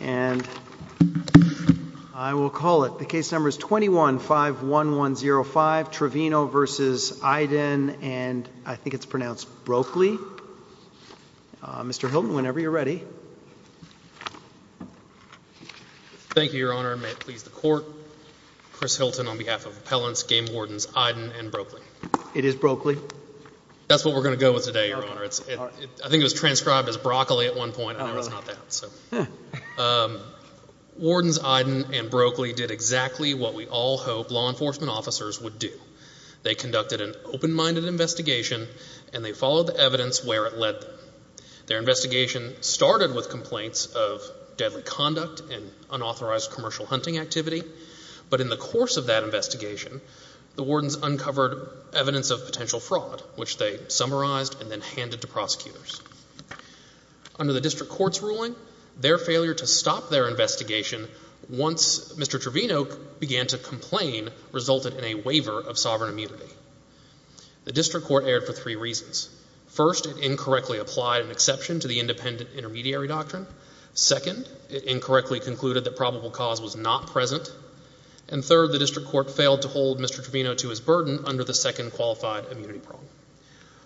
and I will call it the case number is 21 5 1 1 0 5 Trevino versus Iden and I think it's pronounced Broakley. Mr. Hilton whenever you're ready. Thank you your honor may it please the court Chris Hilton on behalf of appellants game wardens Iden and Broakley. It is Broakley. That's what we're gonna go with today I think it was transcribed as broccoli at one point. Wardens Iden and Broakley did exactly what we all hope law enforcement officers would do. They conducted an open-minded investigation and they followed the evidence where it led them. Their investigation started with complaints of deadly conduct and unauthorized commercial hunting activity but in the course of that investigation the wardens uncovered evidence of potential fraud which they summarized and then handed to prosecutors. Under the district court's ruling their failure to stop their investigation once Mr. Trevino began to complain resulted in a waiver of sovereign immunity. The district court erred for three reasons. First it incorrectly applied an exception to the independent intermediary doctrine. Second it incorrectly concluded that probable cause was not present and third the district court failed to hold Mr. Trevino to his burden under the qualified immunity problem.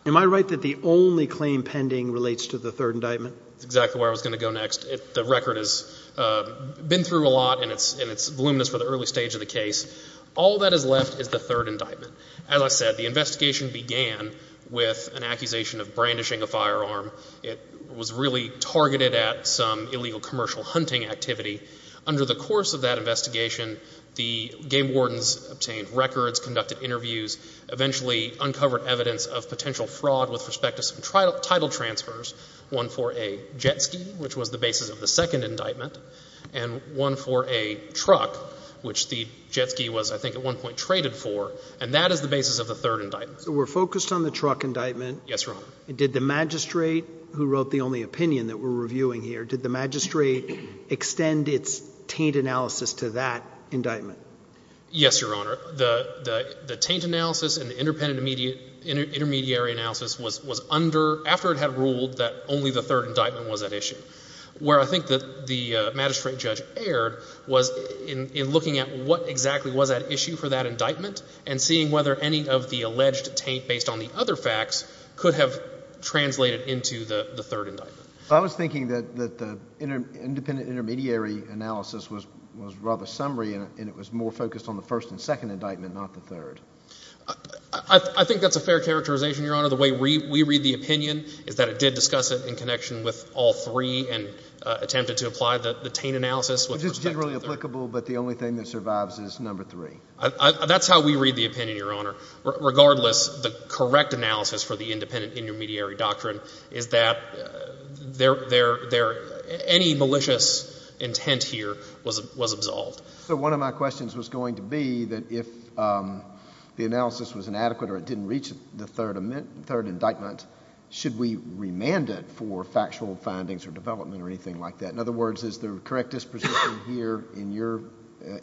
Am I right that the only claim pending relates to the third indictment? That's exactly where I was going to go next. The record has been through a lot and it's voluminous for the early stage of the case. All that is left is the third indictment. As I said the investigation began with an accusation of brandishing a firearm. It was really targeted at some illegal commercial hunting activity. Under the course of that investigation the game eventually uncovered evidence of potential fraud with respect to some title transfers. One for a jet ski which was the basis of the second indictment and one for a truck which the jet ski was I think at one point traded for and that is the basis of the third indictment. So we're focused on the truck indictment? Yes, Your Honor. Did the magistrate who wrote the only opinion that we're reviewing here, did the magistrate extend its taint analysis to that indictment? Yes, Your Honor. The taint analysis and the independent intermediary analysis was under, after it had ruled that only the third indictment was at issue. Where I think the magistrate judge erred was in looking at what exactly was at issue for that indictment and seeing whether any of the alleged taint based on the other facts could have translated into the third indictment. I was thinking that the independent intermediary analysis was rather summary and it was more focused on the first and indictment not the third. I think that's a fair characterization, Your Honor. The way we read the opinion is that it did discuss it in connection with all three and attempted to apply the taint analysis. Which is generally applicable but the only thing that survives is number three. That's how we read the opinion, Your Honor. Regardless, the correct analysis for the independent intermediary doctrine is that any malicious intent here was absolved. So one of my questions was going to be that if the analysis was inadequate or it didn't reach the third indictment, should we remand it for factual findings or development or anything like that? In other words, is the correct disposition here, in your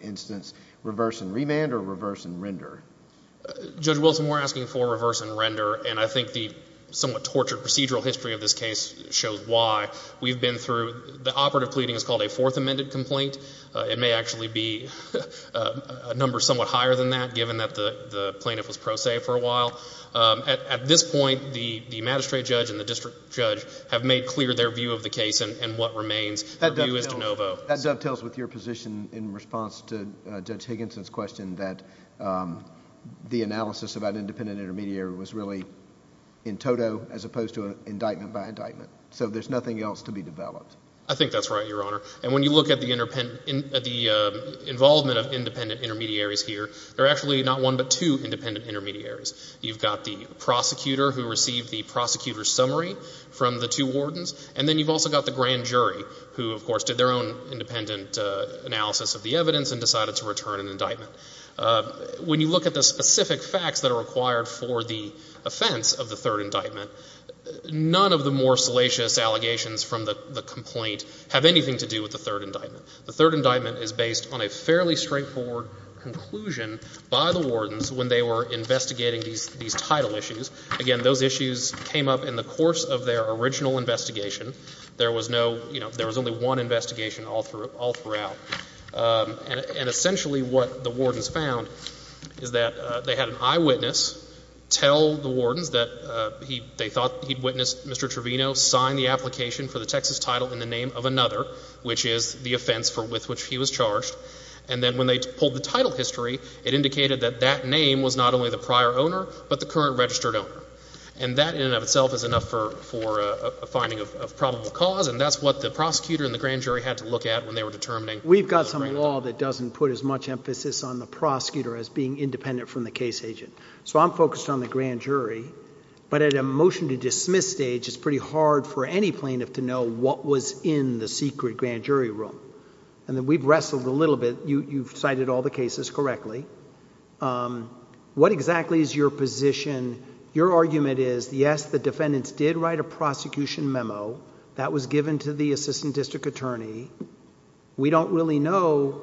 instance, reverse and remand or reverse and render? Judge Wilson, we're asking for reverse and render and I think the somewhat tortured procedural history of this case shows why. We've been through, the operative higher than that given that the plaintiff was pro se for a while. At this point, the magistrate judge and the district judge have made clear their view of the case and what remains. That dovetails with your position in response to Judge Higginson's question that the analysis about independent intermediary was really in toto as opposed to an indictment by indictment. So there's nothing else to be developed. I think that's right, Your Honor. And when you look at the involvement of independent intermediaries here, there are actually not one but two independent intermediaries. You've got the prosecutor who received the prosecutor's summary from the two wardens and then you've also got the grand jury who, of course, did their own independent analysis of the evidence and decided to return an indictment. When you look at the specific facts that are required for the offense of the third indictment, none of the more salacious allegations from the complaint have anything to do with the third indictment. The third indictment is based on a fairly straightforward conclusion by the wardens when they were investigating these title issues. Again, those issues came up in the course of their original investigation. There was no, you know, there was only one investigation all throughout. And essentially what the wardens found is that they had an eyewitness tell the wardens that they thought he'd witnessed Mr. Trevino sign the application for the Texas title in the name of another, which is the offense with which he was charged. And then when they pulled the title history, it indicated that that name was not only the prior owner but the current registered owner. And that in and of itself is enough for a finding of probable cause. And that's what the prosecutor and the grand jury had to look at when they were determining. We've got some law that doesn't put as much emphasis on the prosecutor as being independent from the case agent. So I'm focused on the grand jury. But at a motion to dismiss stage, it's pretty hard for any plaintiff to know what was in the secret grand jury room. And we've wrestled a little bit. You've cited all the cases correctly. What exactly is your position? Your argument is, yes, the defendants did write a prosecution memo. That was given to the assistant district attorney. We don't really know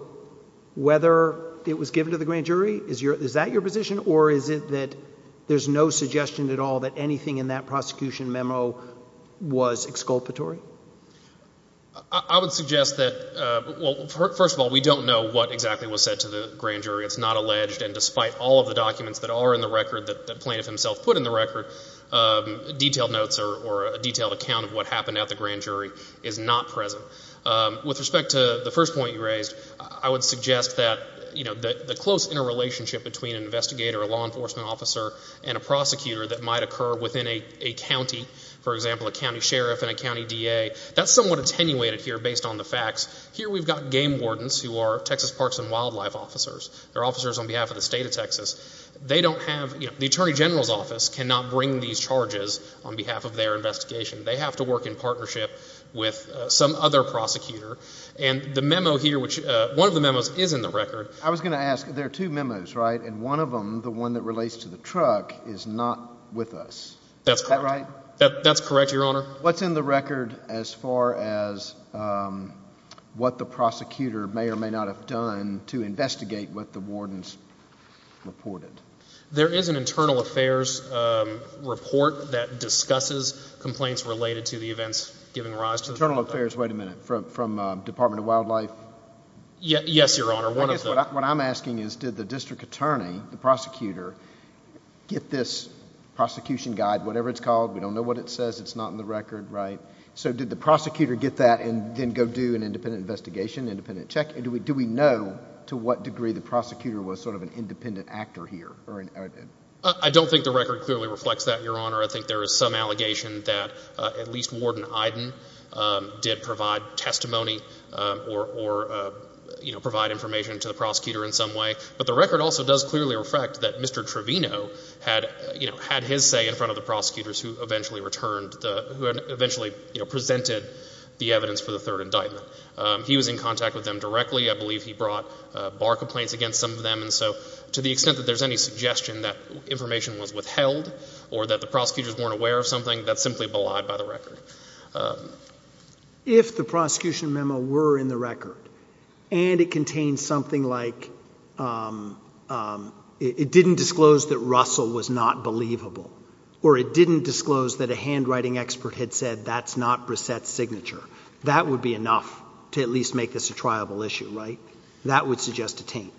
whether it was given to the grand jury. Is that your position or is it that there's no suggestion at all that anything in that prosecution memo was exculpatory? I would suggest that, well, first of all, we don't know what exactly was said to the grand jury. It's not alleged. And despite all of the documents that are in the record, that the plaintiff himself put in the record, detailed notes or a detailed account of what happened at the grand jury is not present. With respect to the first point you raised, I would suggest that the close interrelationship between an investigator, a law enforcement officer, and a prosecutor that might occur within a county, for example, a county sheriff and a county DA, that's somewhat attenuated here based on the facts. Here we've got game wardens who are Texas Parks and Wildlife officers. They're officers on behalf of the state of Texas. They don't have, you know, the attorney general's office cannot bring these charges on behalf of their investigation. They have to work in partnership with some other prosecutor. And the memo here, which, one of the memos is in the record. I was going to ask, there are two memos, right? And one of them, the one that is in the record, as far as what the prosecutor may or may not have done to investigate what the wardens reported. There is an internal affairs report that discusses complaints related to the events giving rise to the... Internal affairs, wait a minute, from Department of Wildlife? Yes, your honor, one of them. What I'm asking is, did the district attorney, the prosecutor, get this prosecution guide, whatever it's called, we don't know what it says, it's not in the record, right? So did the prosecutor get that and then go do an independent investigation, independent check? And do we know to what degree the prosecutor was sort of an independent actor here? I don't think the record clearly reflects that, your honor. I think there is some allegation that at least Warden Iden did provide testimony or, you know, provide information to the prosecutor in some way. But the record also does clearly reflect that Mr. Trevino had, you know, had his say in front of the prosecutors who eventually returned, who eventually, you know, presented the evidence for the third indictment. He was in contact with them directly. I believe he brought bar complaints against some of them. And so to the extent that there's any suggestion that information was withheld or that the prosecutors weren't aware of something, that's simply belied by the record. If the prosecution memo were in the record and it contained something like it didn't disclose that Russell was not believable or it didn't disclose that a handwriting expert had said that's not Brissette's signature, that would be enough to at least make this a triable issue, right? That would suggest a taint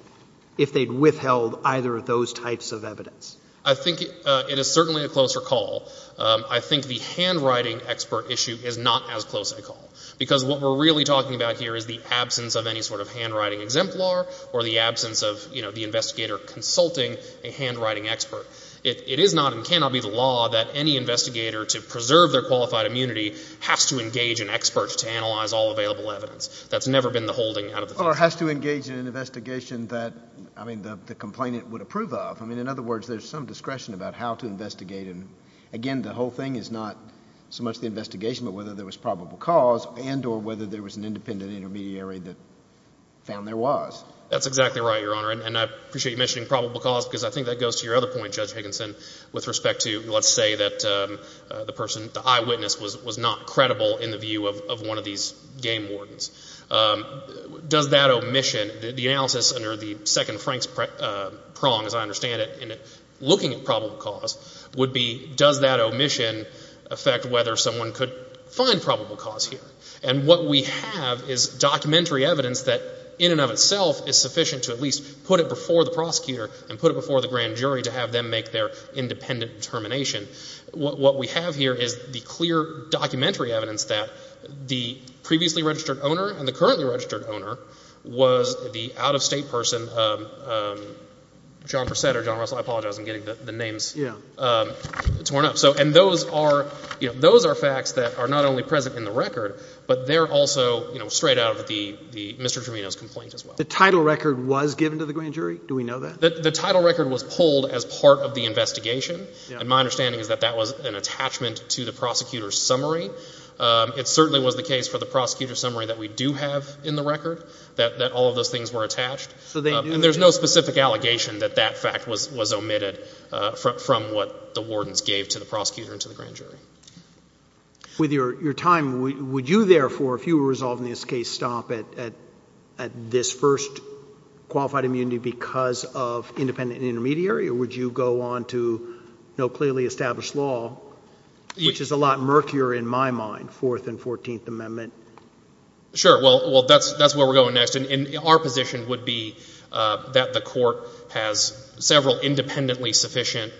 if they'd withheld either of those types of evidence. I think it is certainly a closer call. I think the handwriting expert issue is not as close a call. Because what we're really talking about here is the absence of any sort of handwriting exemplar or the absence of, you know, the investigator consulting a handwriting expert. It is not and cannot be the law that any investigator, to preserve their qualified immunity, has to engage an expert to analyze all available evidence. That's never been the holding out of the case. Well, or has to engage in an investigation that, I mean, the complainant would approve of. I mean, in other words, there's some discretion about how to investigate. And again, the whole thing is not so much the investigation, but whether there was probable cause and or whether there was an independent intermediary that found there was. That's exactly right, Your Honor. And I appreciate you mentioning probable cause, because I think that goes to your other point, Judge Higginson, with respect to, let's say that the person, the eyewitness was not credible in the view of one of these game wardens. Does that omission, the analysis under the second Frank's prong, as I understand it, in looking at probable cause, would be does that omission affect whether someone could find probable cause here? And what we have is documentary evidence that, in and of itself, is sufficient to at least put it before the prosecutor and put it before the grand jury to have them make their independent determination. What we have here is the clear documentary evidence that the previously registered owner and the currently registered owner was the out-of-state person, John Persetta, John Russell, I Yeah. And those are facts that are not only present in the record, but they're also straight out of Mr. Tromino's complaint as well. The title record was given to the grand jury? Do we know that? The title record was pulled as part of the investigation. And my understanding is that that was an attachment to the prosecutor's summary. It certainly was the case for the prosecutor's summary that we do have in the record, that all of those things were attached. And there's no specific allegation that that fact was omitted from what the wardens gave to the prosecutor and to the grand jury. With your time, would you therefore, if you were resolved in this case, stop at this first qualified immunity because of independent and intermediary? Or would you go on to no clearly established law, which is a lot murkier in my mind, 4th and 14th Amendment? Sure. Well, that's where we're going next. And our position would be that the re's two sufficient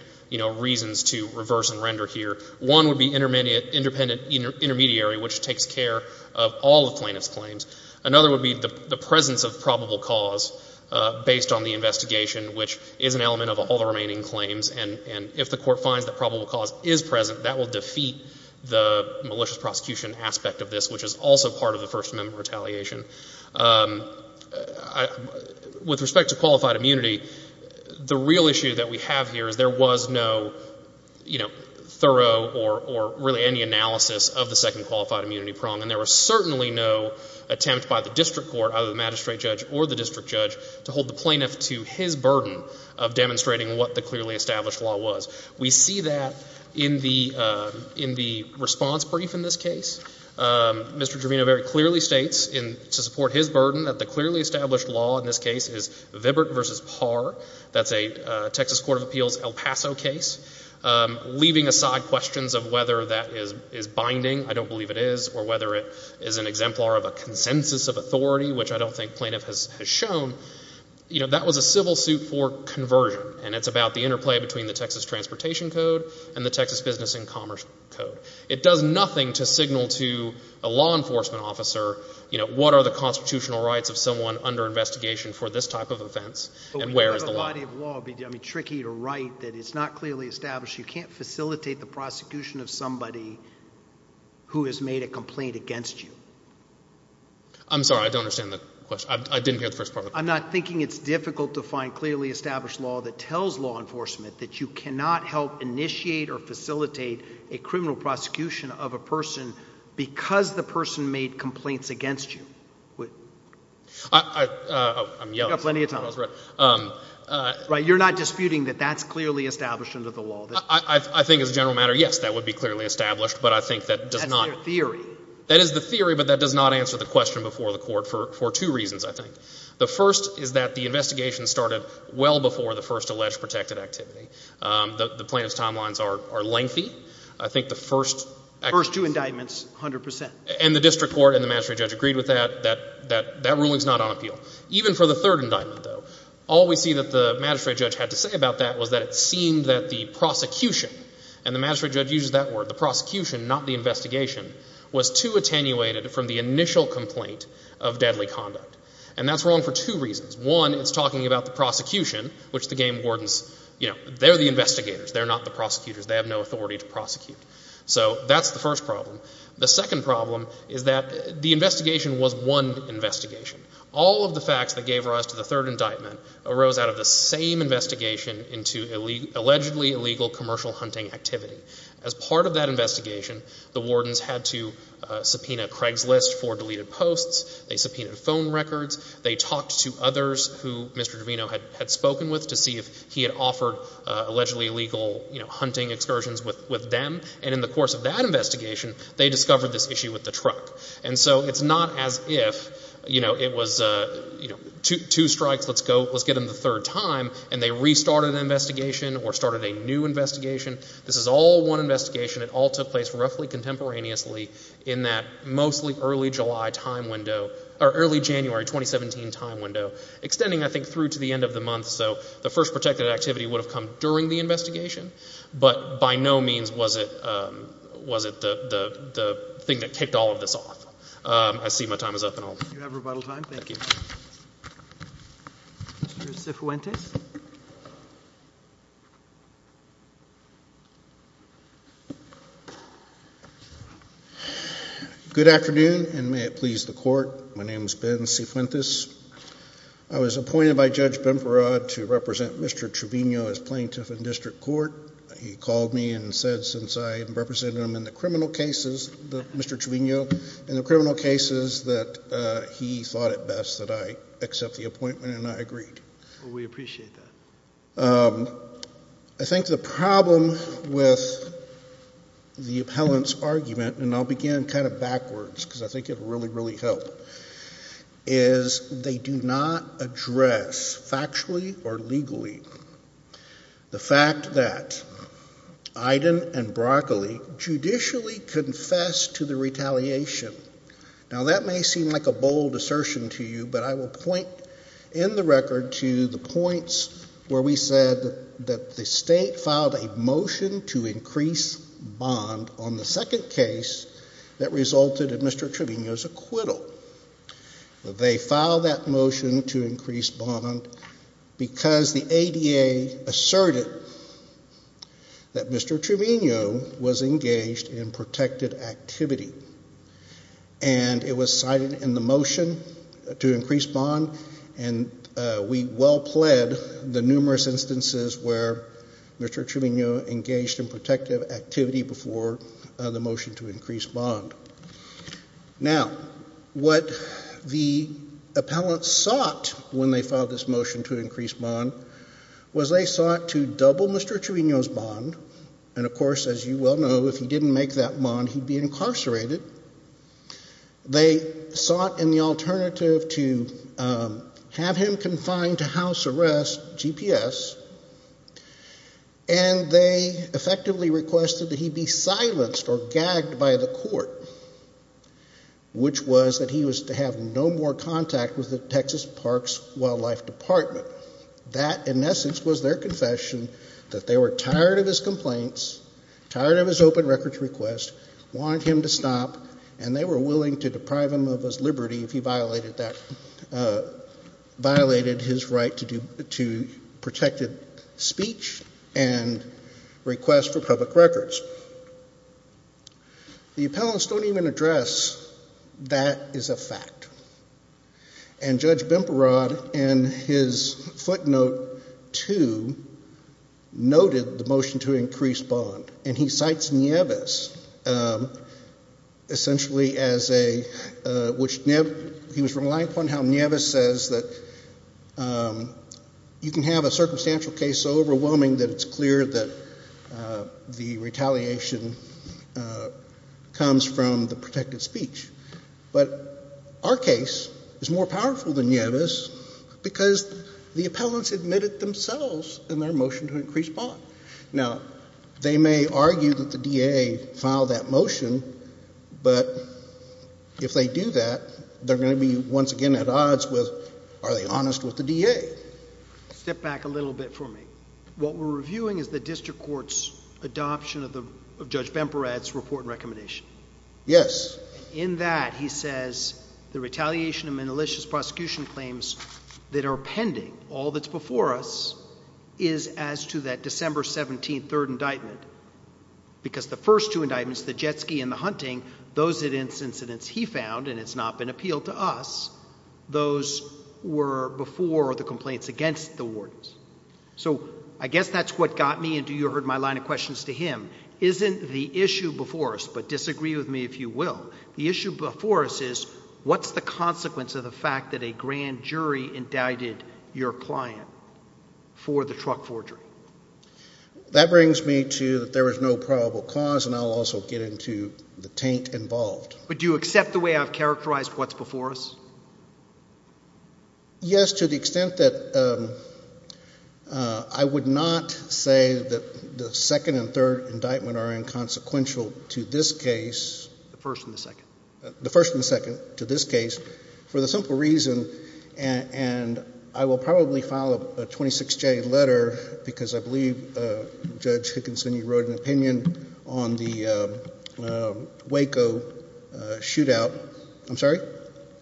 reasons to reverse and render here. One would be intermediary, which takes care of all the plaintiff's claims. Another would be the presence of probable cause based on the investigation, which is an element of all the remaining claims. And if the court finds that probable cause is present, that will defeat the malicious prosecution aspect of this, which is also part of the First Amendment retaliation. With respect to qualified immunity, the real issue that we have here is there was no thorough or really any analysis of the second qualified immunity prong. And there was certainly no attempt by the district court, either the magistrate judge or the district judge, to hold the plaintiff to his burden of demonstrating what the clearly established law was. We see that in the response brief in this case. Mr. Trevino very clearly states to support his burden that the clearly established law in this case is Vibert v. Parr. That's a Texas Court of Appeals El Paso case. Leaving aside questions of whether that is binding, I don't believe it is, or whether it is an exemplar of a consensus of authority, which I don't think plaintiff has shown, that was a civil suit for conversion. And it's about the interplay between the Texas Transportation Code and the Texas Business and Commerce Code. It does nothing to tell you, a law enforcement officer, what are the constitutional rights of someone under investigation for this type of offense, and where is the law? But when you have a body of law, it would be tricky to write that it's not clearly established. You can't facilitate the prosecution of somebody who has made a complaint against you. I'm sorry, I don't understand the question. I didn't hear the first part of the question. I'm not thinking it's difficult to find clearly established law that tells law enforcement that you cannot help initiate or facilitate a criminal prosecution of a person because the person made complaints against you. I'm yelling. You've got plenty of time. Right. You're not disputing that that's clearly established under the law? I think as a general matter, yes, that would be clearly established, but I think that does not. That's their theory. That is the theory, but that does not answer the question before the Court for two reasons, I think. The first is that the investigation started well before the first alleged protected activity. The plaintiff's timelines are lengthy. I think the first First two indictments, 100 percent. And the district court and the magistrate judge agreed with that, that that ruling's not on appeal. Even for the third indictment, though, all we see that the magistrate judge had to say about that was that it seemed that the prosecution, and the magistrate judge uses that word, the prosecution, not the investigation, was too attenuated from the initial complaint of deadly conduct. And that's wrong for two reasons. One, it's talking about the prosecution, which the game wardens, you know, they're the investigators. They're not the prosecutors. They have no authority to prosecute. So that's the first problem. The second problem is that the investigation was one investigation. All of the facts that gave rise to the third indictment arose out of the same investigation into allegedly illegal commercial hunting activity. As part of that investigation, the wardens had to subpoena Craigslist for deleted posts. They subpoenaed phone records. They talked to others who Mr. Devino had spoken with to see if he had offered allegedly illegal hunting excursions with them. And in the course of that investigation, they discovered this issue with the truck. And so it's not as if, you know, it was two strikes, let's get them the third time, and they restarted an investigation or started a new investigation. This is all one investigation. It all took place roughly contemporaneously in that mostly early July time window, or early January 2017 time window, extending, I think, through to the end of the month. So the first protected activity would have come during the investigation, but by no means was it the thing that kicked all of this off. I see my time is up and I'll... You have rebuttal time. Thank you. Mr. Cifuentes. Good afternoon, and may it please the Court. My name is Ben Cifuentes. I was appointed by Judge Bimparad to represent Mr. Trevino as plaintiff in district court. He called me and said, since I have represented him in the criminal cases, Mr. Trevino, in the criminal cases, that he thought it best that I accept the appointment, and I agreed. We appreciate that. I think the problem with the appellant's argument, and I'll begin kind of from the beginning, is the fact that he did not address, factually or legally, the fact that Iden and Broccoli judicially confessed to the retaliation. Now, that may seem like a bold assertion to you, but I will point in the record to the points where we said that the state filed a motion to increase bond on the second case that resulted in Mr. Trevino's acquittal. They filed that motion to increase bond because the ADA asserted that Mr. Trevino was engaged in protected activity. And it was cited in the motion to increase bond, and we well pled the numerous instances where Mr. Trevino engaged in protected activity before the motion to increase bond. Now, what the appellant sought when they filed this motion to increase bond was they sought to double Mr. Trevino's bond, and of course, as you well know, if he didn't make that bond, he'd be incarcerated. They sought in the alternative to have him confined to house arrest, GPS, and they effectively requested that he be silenced or gagged by the court, which was that he was to have no more contact with the Texas Parks and Wildlife Department. That, in essence, was their confession that they were tired of his complaints, tired of his open records request, wanted him to stop, and they were willing to deprive him of his liberty if he violated his right to protected speech and request for public records. The appellants don't even address that is a fact. And Judge Bimparad in his footnote 2 noted the motion to increase bond, and he cites Nieves essentially as a, which, he was relying upon how Nieves says that you can have a retaliation comes from the protected speech. But our case is more powerful than Nieves because the appellants admitted themselves in their motion to increase bond. Now, they may argue that the DA filed that motion, but if they do that, they're going to be once again at odds with are they honest with the DA. Step back a little bit for me. What we're reviewing is the district court's adoption of Judge Bimparad's report and recommendation. Yes. In that, he says, the retaliation of malicious prosecution claims that are pending, all that's before us, is as to that December 17th 3rd indictment. Because the first two indictments, the jet ski and the hunting, those incidents he found, and it's not been appealed to us, those were before the complaints against the wardens. So, I guess that's what got me into, you heard my line of questions to him, isn't the issue before us, but disagree with me if you will, the issue before us is what's the consequence of the fact that a grand jury indicted your client for the truck forgery? That brings me to that there was no probable cause, and I'll also get into the taint involved. But do you accept the way I've characterized what's before us? Yes, to the extent that I would not say that the second and third indictment are inconsequential to this case. The first and the second. The first and the second, to this case, for the simple reason, and I will probably file a 26J letter, because I believe Judge Hickinson, you wrote an opinion on the Waco shootout. I'm sorry?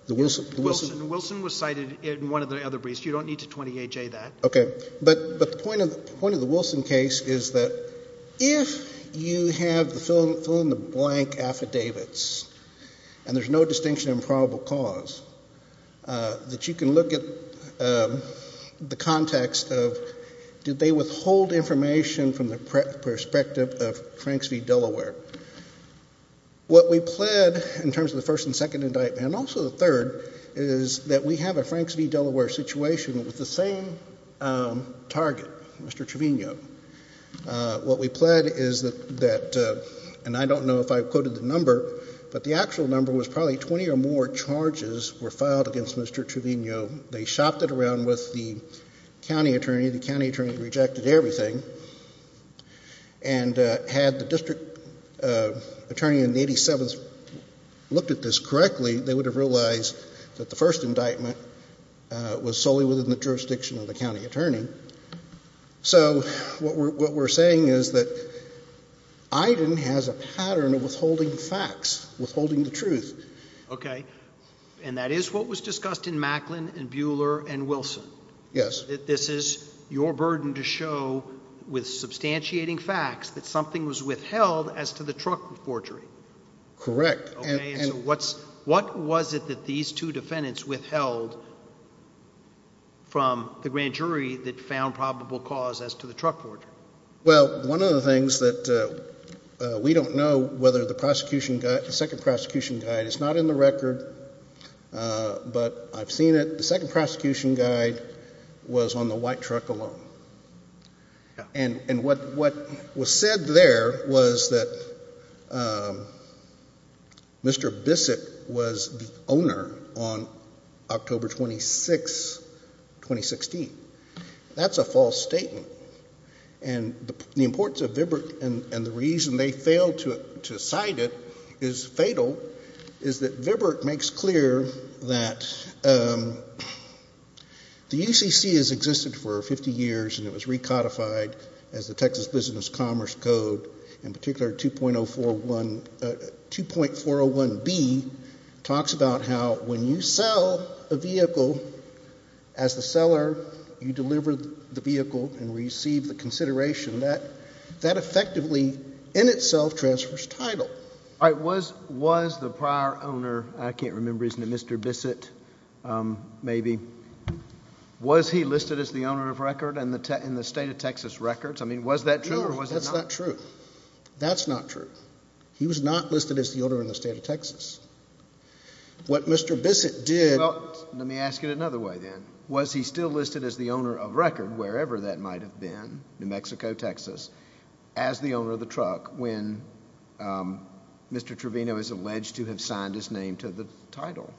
The Wilson? The Wilson was cited in one of the other briefs. You don't need to 28J that. Okay. But the point of the Wilson case is that if you have the fill in the blank affidavits, and there's no distinction in probable cause, that you can look at the context of did they withhold information from the perspective of Franks v. Delaware? What we pled in terms of the first and second indictment, and also the third, is that we have a Franks v. Delaware situation with the same target, Mr. Trevino. What we pled is that, and I don't know if I quoted the right word, but the same charges were filed against Mr. Trevino. They shopped it around with the county attorney. The county attorney rejected everything. And had the district attorney in the 87th looked at this correctly, they would have realized that the first indictment was solely within the jurisdiction of the county attorney. So what we're saying is that Iden has a pattern of withholding facts, withholding the truth. Okay. And that is what was discussed in Macklin and Buehler and Wilson? Yes. This is your burden to show with substantiating facts that something was withheld as to the truck forgery? Correct. Okay. And what was it that these two defendants withheld from the grand jury that found probable cause as to the truck forgery? Well, one of the things that we don't know whether the prosecution, the second prosecution guide, it's not in the record, but I've seen it. The second prosecution guide was on the white truck alone. And what was said there was that Mr. Bissett was the owner on October 26, 2016. That's a false statement. And the importance of VBIRT and the reason they failed to cite it is fatal, is that VBIRT makes clear that the UCC has existed for 50 years and it was recodified as the Texas Business Commerce Code, in particular 2.401B, talks about how when you sell a vehicle as the seller, you deliver the vehicle and receive the consideration. That effectively in itself transfers title. All right. Was the prior owner, I can't remember, isn't it Mr. Bissett maybe, was he listed as the owner of record in the state of Texas records? I mean, was that true or was it not? No, that's not true. That's not true. He was not listed as the owner in the state of Texas. What Mr. Bissett did... Well, let me ask it another way then. Was he still listed as the owner of record, wherever that might have been, New Mexico, Texas, as the owner of the truck when Mr. Trevino is alleged to have signed his name to the title?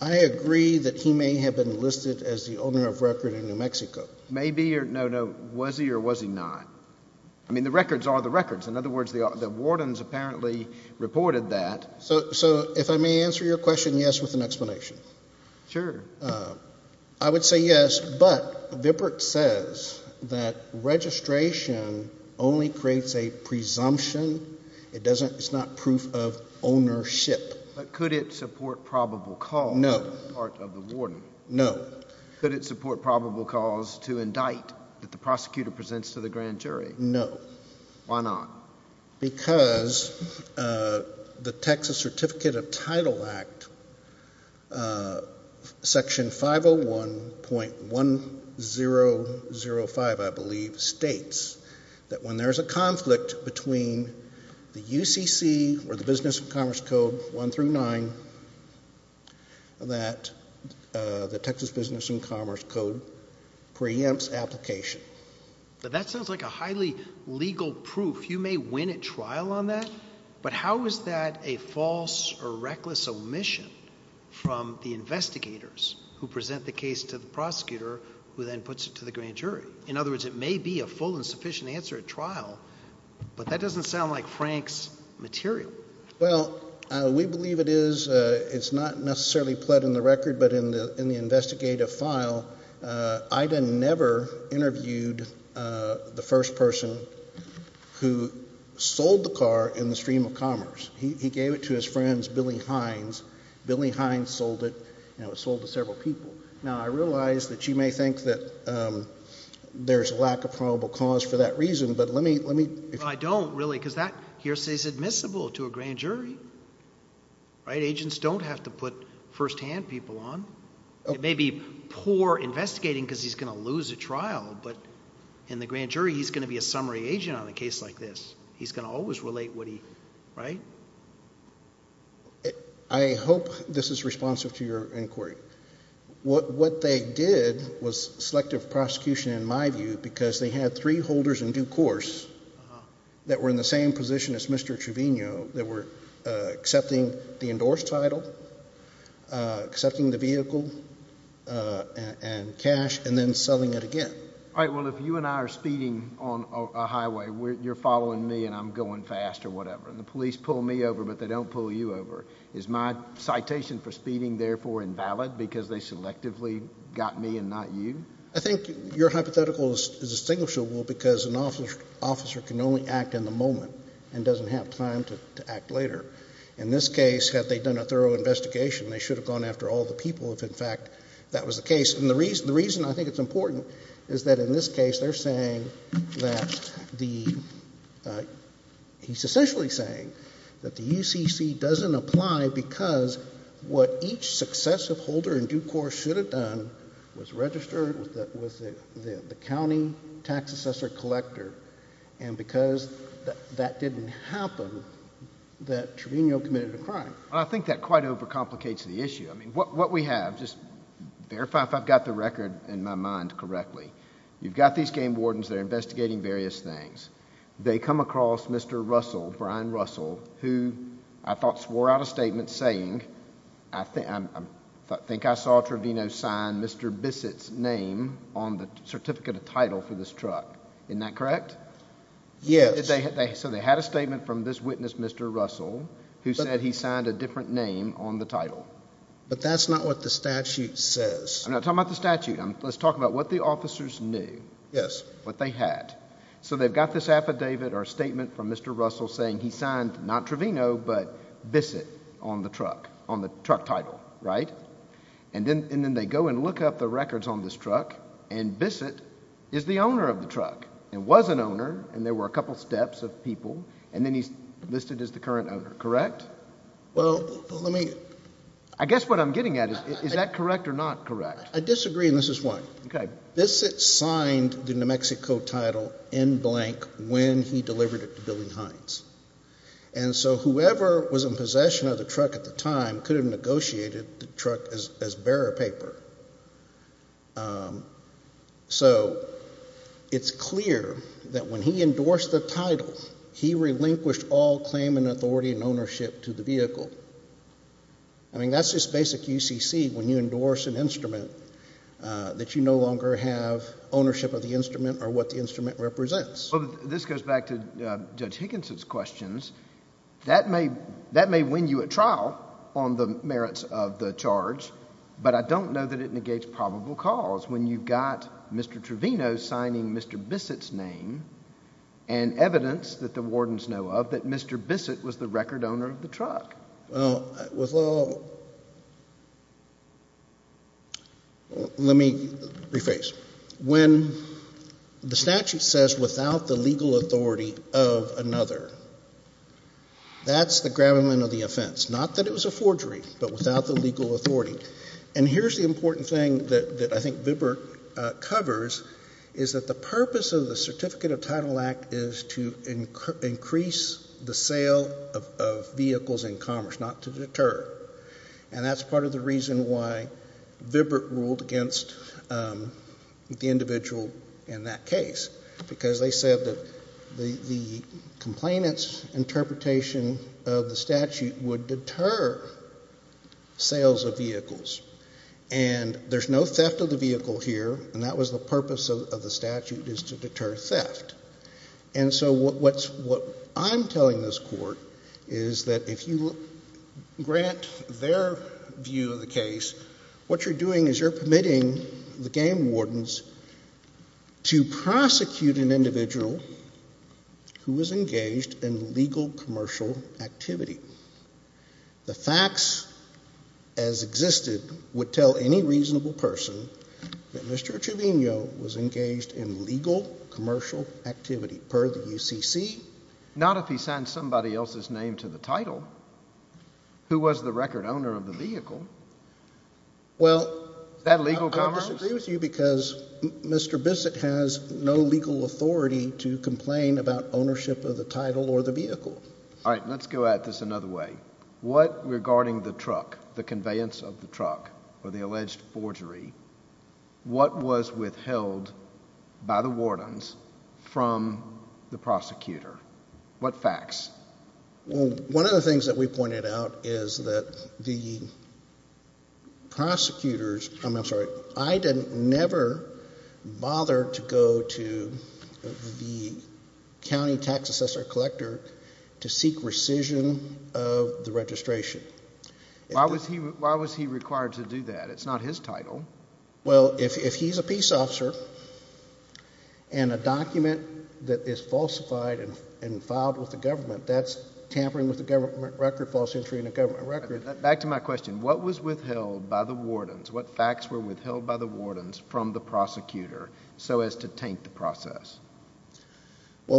I agree that he may have been listed as the owner of record in New Mexico. Maybe. No, no. Was he or was he not? I mean, the records are the records. In other words, the wardens apparently reported that. So if I may answer your question, yes, with an explanation. Sure. I would say yes, but VBIRT says that registration only creates a presumption. It's not proof of ownership. But could it support probable cause? No. Could it support probable cause to indict that the prosecutor presents to the grand jury? No. Why not? Because the Texas Certificate of Title Act Section 501.1005, I believe, states that when there's a conflict between the UCC or the Business and Commerce Code 1 through 9, that the Texas Business and Commerce Code preempts application. That sounds like a highly legal proof. You may win at trial on that, but how is that a false or reckless omission from the investigators who present the case to the prosecutor who then puts it to the grand jury? In other words, it may be a full and sufficient answer at trial, but that doesn't sound like Frank's material. Well, we believe it is. It's not necessarily pled in the record, but in the investigative file, Ida never interviewed the first person who sold the car in the stream of commerce. He gave it to his friends, Billy Hines. Billy Hines sold it. It was sold to several people. Now, I realize that you may think that there's a lack of probable cause for that reason, but let me... I don't, really, because that hearsay is admissible to a grand jury. Agents don't have to put first-hand people on. It may be poor investigating because he's going to lose at trial, but in the grand jury, he's going to be a summary agent on a case like this. He's going to always relate what he... right? I hope this is responsive to your inquiry. What they did was selective prosecution, in my view, because they had three holders in due course that were in the same position as Mr. Trevino that were accepting the endorsed title, accepting the vehicle and cash, and then selling it again. All right. Well, if you and I are speeding on a highway, you're following me and I'm going fast or whatever, and the police pull me over, but they don't pull you over, is my citation for speeding, therefore, invalid because they selectively got me and not you? I think your hypothetical is distinguishable because an officer can only act in the moment and doesn't have time to act later. In this case, had they done a thorough investigation, they should have gone after all the people if, in fact, that was the case. And the reason I think it's important is that in this case, they're saying that the... he's essentially saying that the UCC doesn't apply because what each successive holder in due course should have done was register with the county tax assessor collector, and because that didn't happen, that Trevino committed a crime. Well, I think that quite overcomplicates the issue. I mean, what we have, just verify if I've got the record in my mind correctly, you've got these game wardens that are investigating various things. They come across Mr. Russell, Brian Russell, who I thought swore out a statement saying, I think I saw Trevino sign Mr. Bissett's name on the certificate of title for this truck. Isn't that correct? Yes. So they had a statement from this witness, Mr. Russell, who said he signed a different name on the title. But that's not what the statute says. I'm not talking about the statute. Let's talk about what the officers knew, what they had. So they've got this affidavit or statement from Mr. Russell saying he signed not Trevino, but Bissett on the truck, on the truck title, right? And then they go and look up the records on this truck, and Bissett is the owner of the truck, and was an owner, and there were a couple steps of people, and then he's listed as the current owner, correct? I guess what I'm getting at is, is that correct or not correct? I disagree, and this is why. Bissett signed the New Mexico title in blank when he delivered it to Billy Hines. And so whoever was in possession of the truck at the time could have negotiated the truck as bearer paper. So it's clear that when he endorsed the title, he relinquished all claim and authority and ownership to the vehicle. I mean, that's just basic UCC when you endorse an instrument that you no longer have ownership of the instrument or what the instrument represents. This goes back to Judge Higginson's questions. That may win you a trial on the merits of the charge, but I don't know that it negates probable cause when you've got Mr. Trevino signing Mr. Bissett's name and evidence that the wardens know of that Mr. Bissett was the record owner of the truck. Let me rephrase. When the statute says without the legal authority of another, that's the gravamen of the offense. Not that it was a violation of the statute, but what it refers is that the purpose of the Certificate of Title Act is to increase the sale of vehicles in commerce, not to deter. And that's part of the reason why Vibrett ruled against the individual in that case, because they said that the complainant's statute would deter sales of vehicles. And there's no theft of the vehicle here, and that was the purpose of the statute, is to deter theft. And so what I'm telling this Court is that if you grant their view of the case, what you're doing is you're permitting the game wardens to do. The facts as existed would tell any reasonable person that Mr. Trevino was engaged in legal commercial activity per the UCC. Not if he signed somebody else's name to the title. Who was the record owner of the vehicle? Well, I don't disagree with you because Mr. Bissett has no legal authority to complain about ownership of the title or the vehicle. Alright, let's go at this another way. What, regarding the truck, the conveyance of the truck, or the alleged forgery, what was withheld by the wardens from the prosecutor? What facts? Well, one of the things that we pointed out is that the county tax assessor collector to seek rescission of the registration. Why was he required to do that? It's not his title. Well, if he's a peace officer and a document that is falsified and filed with the government, that's tampering with the government record, false entry in a government record. Back to my question. What was withheld by the wardens? Well,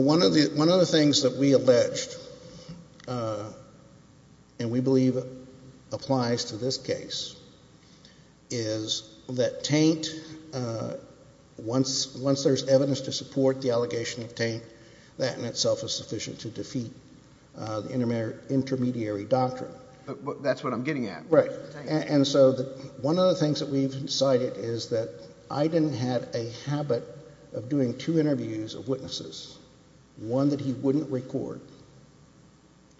one of the things that we alleged, and we believe applies to this case, is that taint, once there's evidence to support the allegation of taint, that in itself is sufficient to defeat the intermediary doctrine. That's what I'm getting at. Right. And so one of the things that we've decided is that Aydin had a habit of doing two interviews of witnesses, one that he wouldn't record,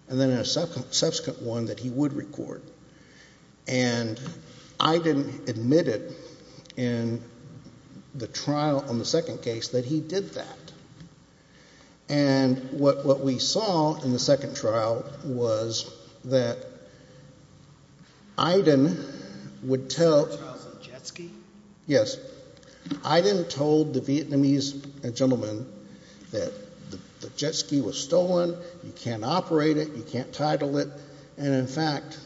and then a subsequent one that he would record. And Aydin admitted in the trial on the second case that he did that. And what we saw in the second trial was that Aydin would tell... The second trial was a jet ski? Yes. Aydin told the Vietnamese gentleman that the jet ski was stolen, you can't operate it, you can't title it, and in fact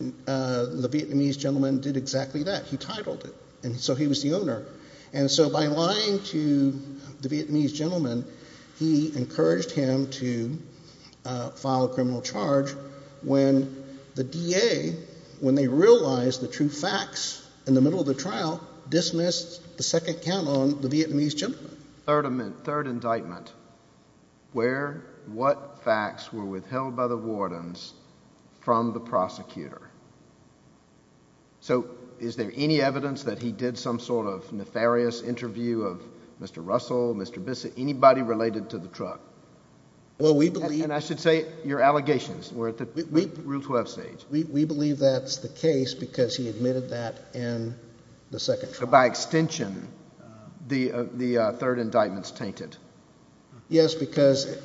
the Vietnamese gentleman did exactly that. He titled it, and so he was the owner. And so by lying to the Vietnamese gentleman, he encouraged him to file a criminal charge when the DA, when they realized the true facts in the middle of the trial, dismissed the second count on the Vietnamese gentleman. Third indictment. Where, what facts were withheld by the wardens from the prosecutor? So is there any evidence that he did some sort of nefarious interview of Mr. Russell, Mr. Bissa, anybody related to the truck? And I should say, your allegations were at the Rule 12 stage. We believe that's the case because he admitted that in the second trial. By extension, the third indictment's tainted. Yes, because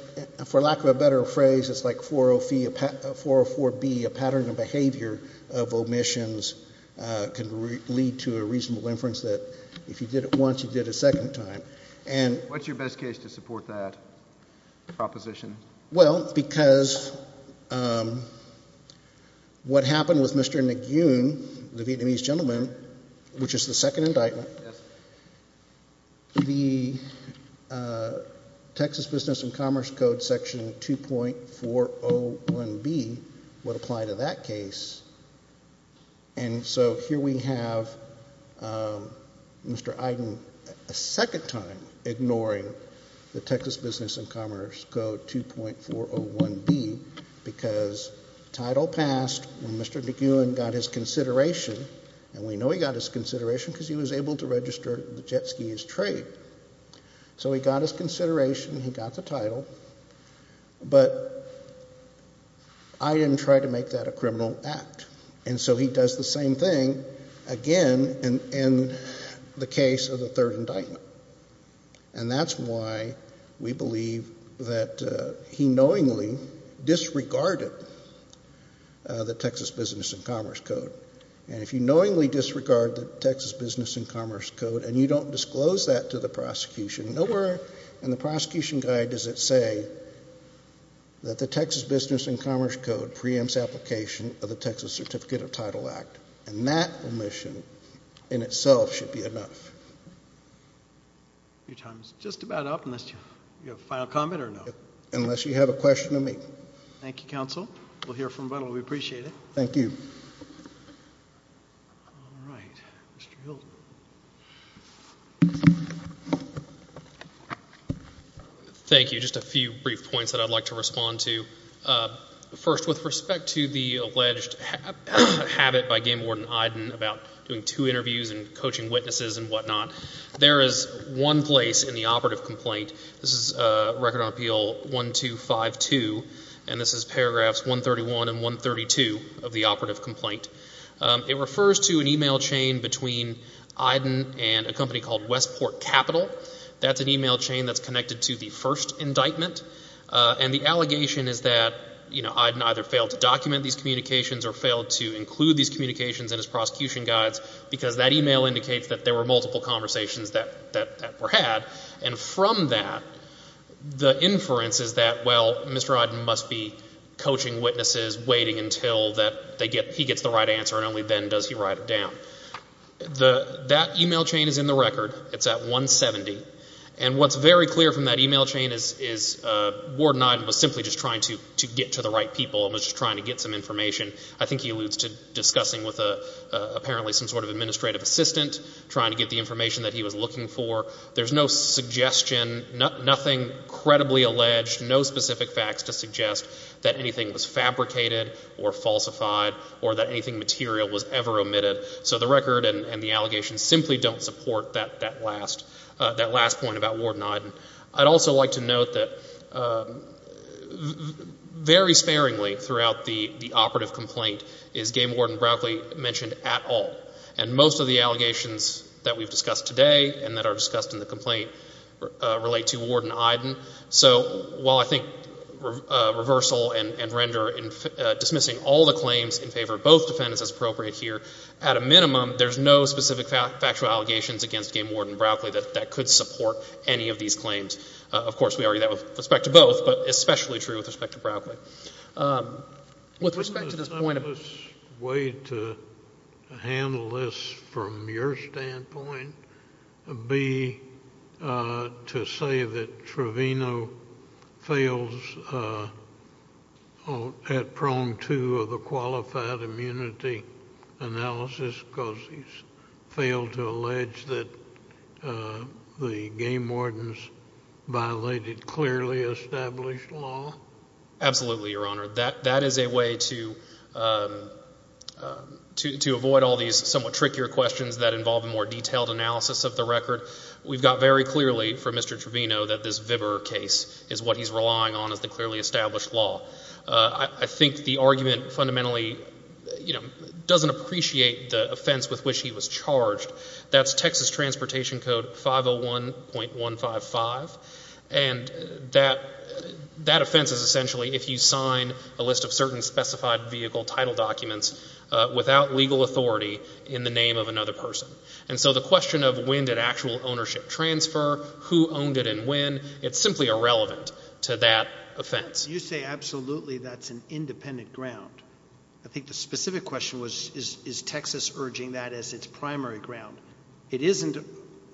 for lack of a better phrase, it's like 404B, a pattern of behavior of omissions can lead to a reasonable inference that if you did it once, you did it a second time. What's your best case to support that proposition? Well, because what happened with Mr. Nguyen, the Vietnamese gentleman, which is the second indictment, the Texas Business and Commerce Code section 2.401B would apply to that case. And so here we have Mr. Iden a second time ignoring the Texas Business and Commerce Code 2.401B because the title passed when Mr. Nguyen got his consideration, and we know he got his consideration because he was able to register the jet skis trade. So he got his consideration, he got the title, but Iden tried to make that a criminal act. And so he does the same thing again in the case of the third indictment. And that's why we believe that he knowingly disregarded the Texas Business and Commerce Code. And if you knowingly disregard the Texas Business and Commerce Code and you don't disclose that to the prosecution, nowhere in the prosecution guide does it say that the Texas Business and Commerce Code preempts application of the Texas Certificate of Title Act. And that omission in itself should be enough. Your time is just about up, unless you have a final comment or no. Unless you have a question of me. Thank you, Counsel. We'll hear from Buttle. We appreciate it. Thank you. All right. Mr. Hilton. Thank you. Just a few brief points that I'd like to respond to. First, with respect to the alleged habit by Game Warden Iden about doing two interviews and coaching witnesses and whatnot, there is one place in the operative complaint. This is Record on Appeal 1252, and this is paragraphs 131 and 132 of the operative complaint. It refers to an e-mail chain between Iden and a company called Westport Capital. That's an e-mail chain that's connected to the first indictment. And the allegation is that Iden either failed to document these communications or failed to include these communications in his prosecution guides, because that e-mail indicates that there were multiple conversations that were had. And from that, the inference is that, well, Mr. Iden must be coaching witnesses, waiting until that he gets the right answer, and only then does he write it down. That e-mail chain is in the record. It's at 170. And what's very clear from that e-mail chain is Warden Iden was simply just trying to get to the right people and was just trying to get some information. I think he alludes to discussing with apparently some sort of administrative assistant, trying to get the information that he was looking for. There's no suggestion, nothing credibly alleged, no specific facts to suggest that anything was fabricated or falsified or that anything material was ever omitted. So the record and the allegations simply don't support that last point about Warden Iden. I'd also like to note that very sparingly throughout the operative complaint is Game Warden Broccoli mentioned at all. And most of the allegations that we've discussed today and that are discussed in the complaint relate to Warden Iden. So while I think reversal and factual allegations against Game Warden Broccoli, that could support any of these claims. Of course, we argue that with respect to both, but especially true with respect to Broccoli. With respect to this point of... The simplest way to handle this from your standpoint would be to say that the Game Wardens violated clearly established law? Absolutely, Your Honor. That is a way to avoid all these somewhat trickier questions that involve a more detailed analysis of the record. We've got very clearly from Mr. Trevino that this Vibber case is what he's relying on as the clearly established law. I think the argument fundamentally doesn't appreciate the offense with which he was charged. That's Texas Transportation Code 501.155. And that offense is essentially if you sign a list of certain specified vehicle title documents without legal authority in the name of another person. And so the question of when did actual ownership transfer, who owned it and when, it's simply irrelevant to that offense. You say absolutely that's an independent ground. I think the specific question was is Texas urging that as its primary ground. It isn't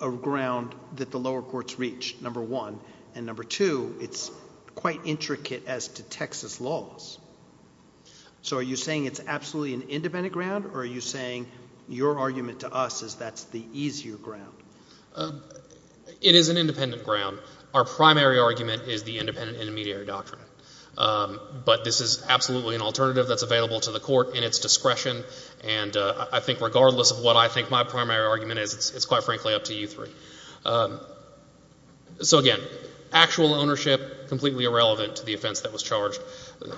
a ground that the lower courts reach, number one. And number two, it's quite intricate as to Texas laws. So are you saying it's absolutely an independent ground or are you saying your argument to us is that's the easier ground? It is an independent ground. Our primary argument is the independent intermediary doctrine. But this is absolutely an alternative that's available to the Court in its discretion. And I think regardless of what I think my primary argument is, it's quite frankly up to you three. So again, actual ownership, completely irrelevant to the offense that was charged.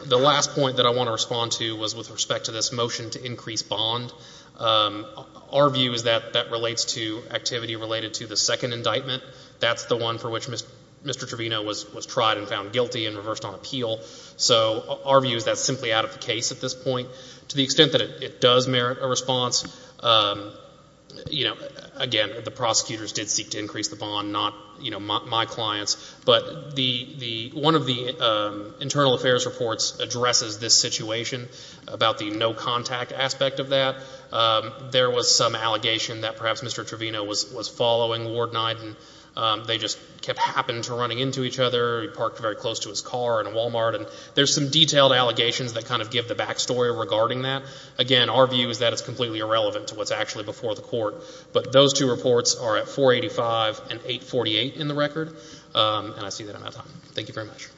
The last point that I want to respond to was with respect to this motion to increase bond. Our view is that that relates to activity related to the second indictment. That's the one for which Mr. Trevino was tried and found guilty and reversed on appeal. So our view is that's simply out of the case at this point. To the extent that it does merit a response, again, the prosecutors did seek to increase the bond, not my clients. But one of the internal affairs reports addresses this situation about the no contact aspect of that. There was some allegation that perhaps Mr. Trevino was following Ward 9 and they just kept happening to run into each other. He parked very close to his car in a Walmart. And there's some detailed allegations that kind of give the back story regarding that. Again, our view is that it's completely irrelevant to what's actually before the Court. But those two reports are at 485 and 848 in the record. And I see that I'm out of time. Thank you very much.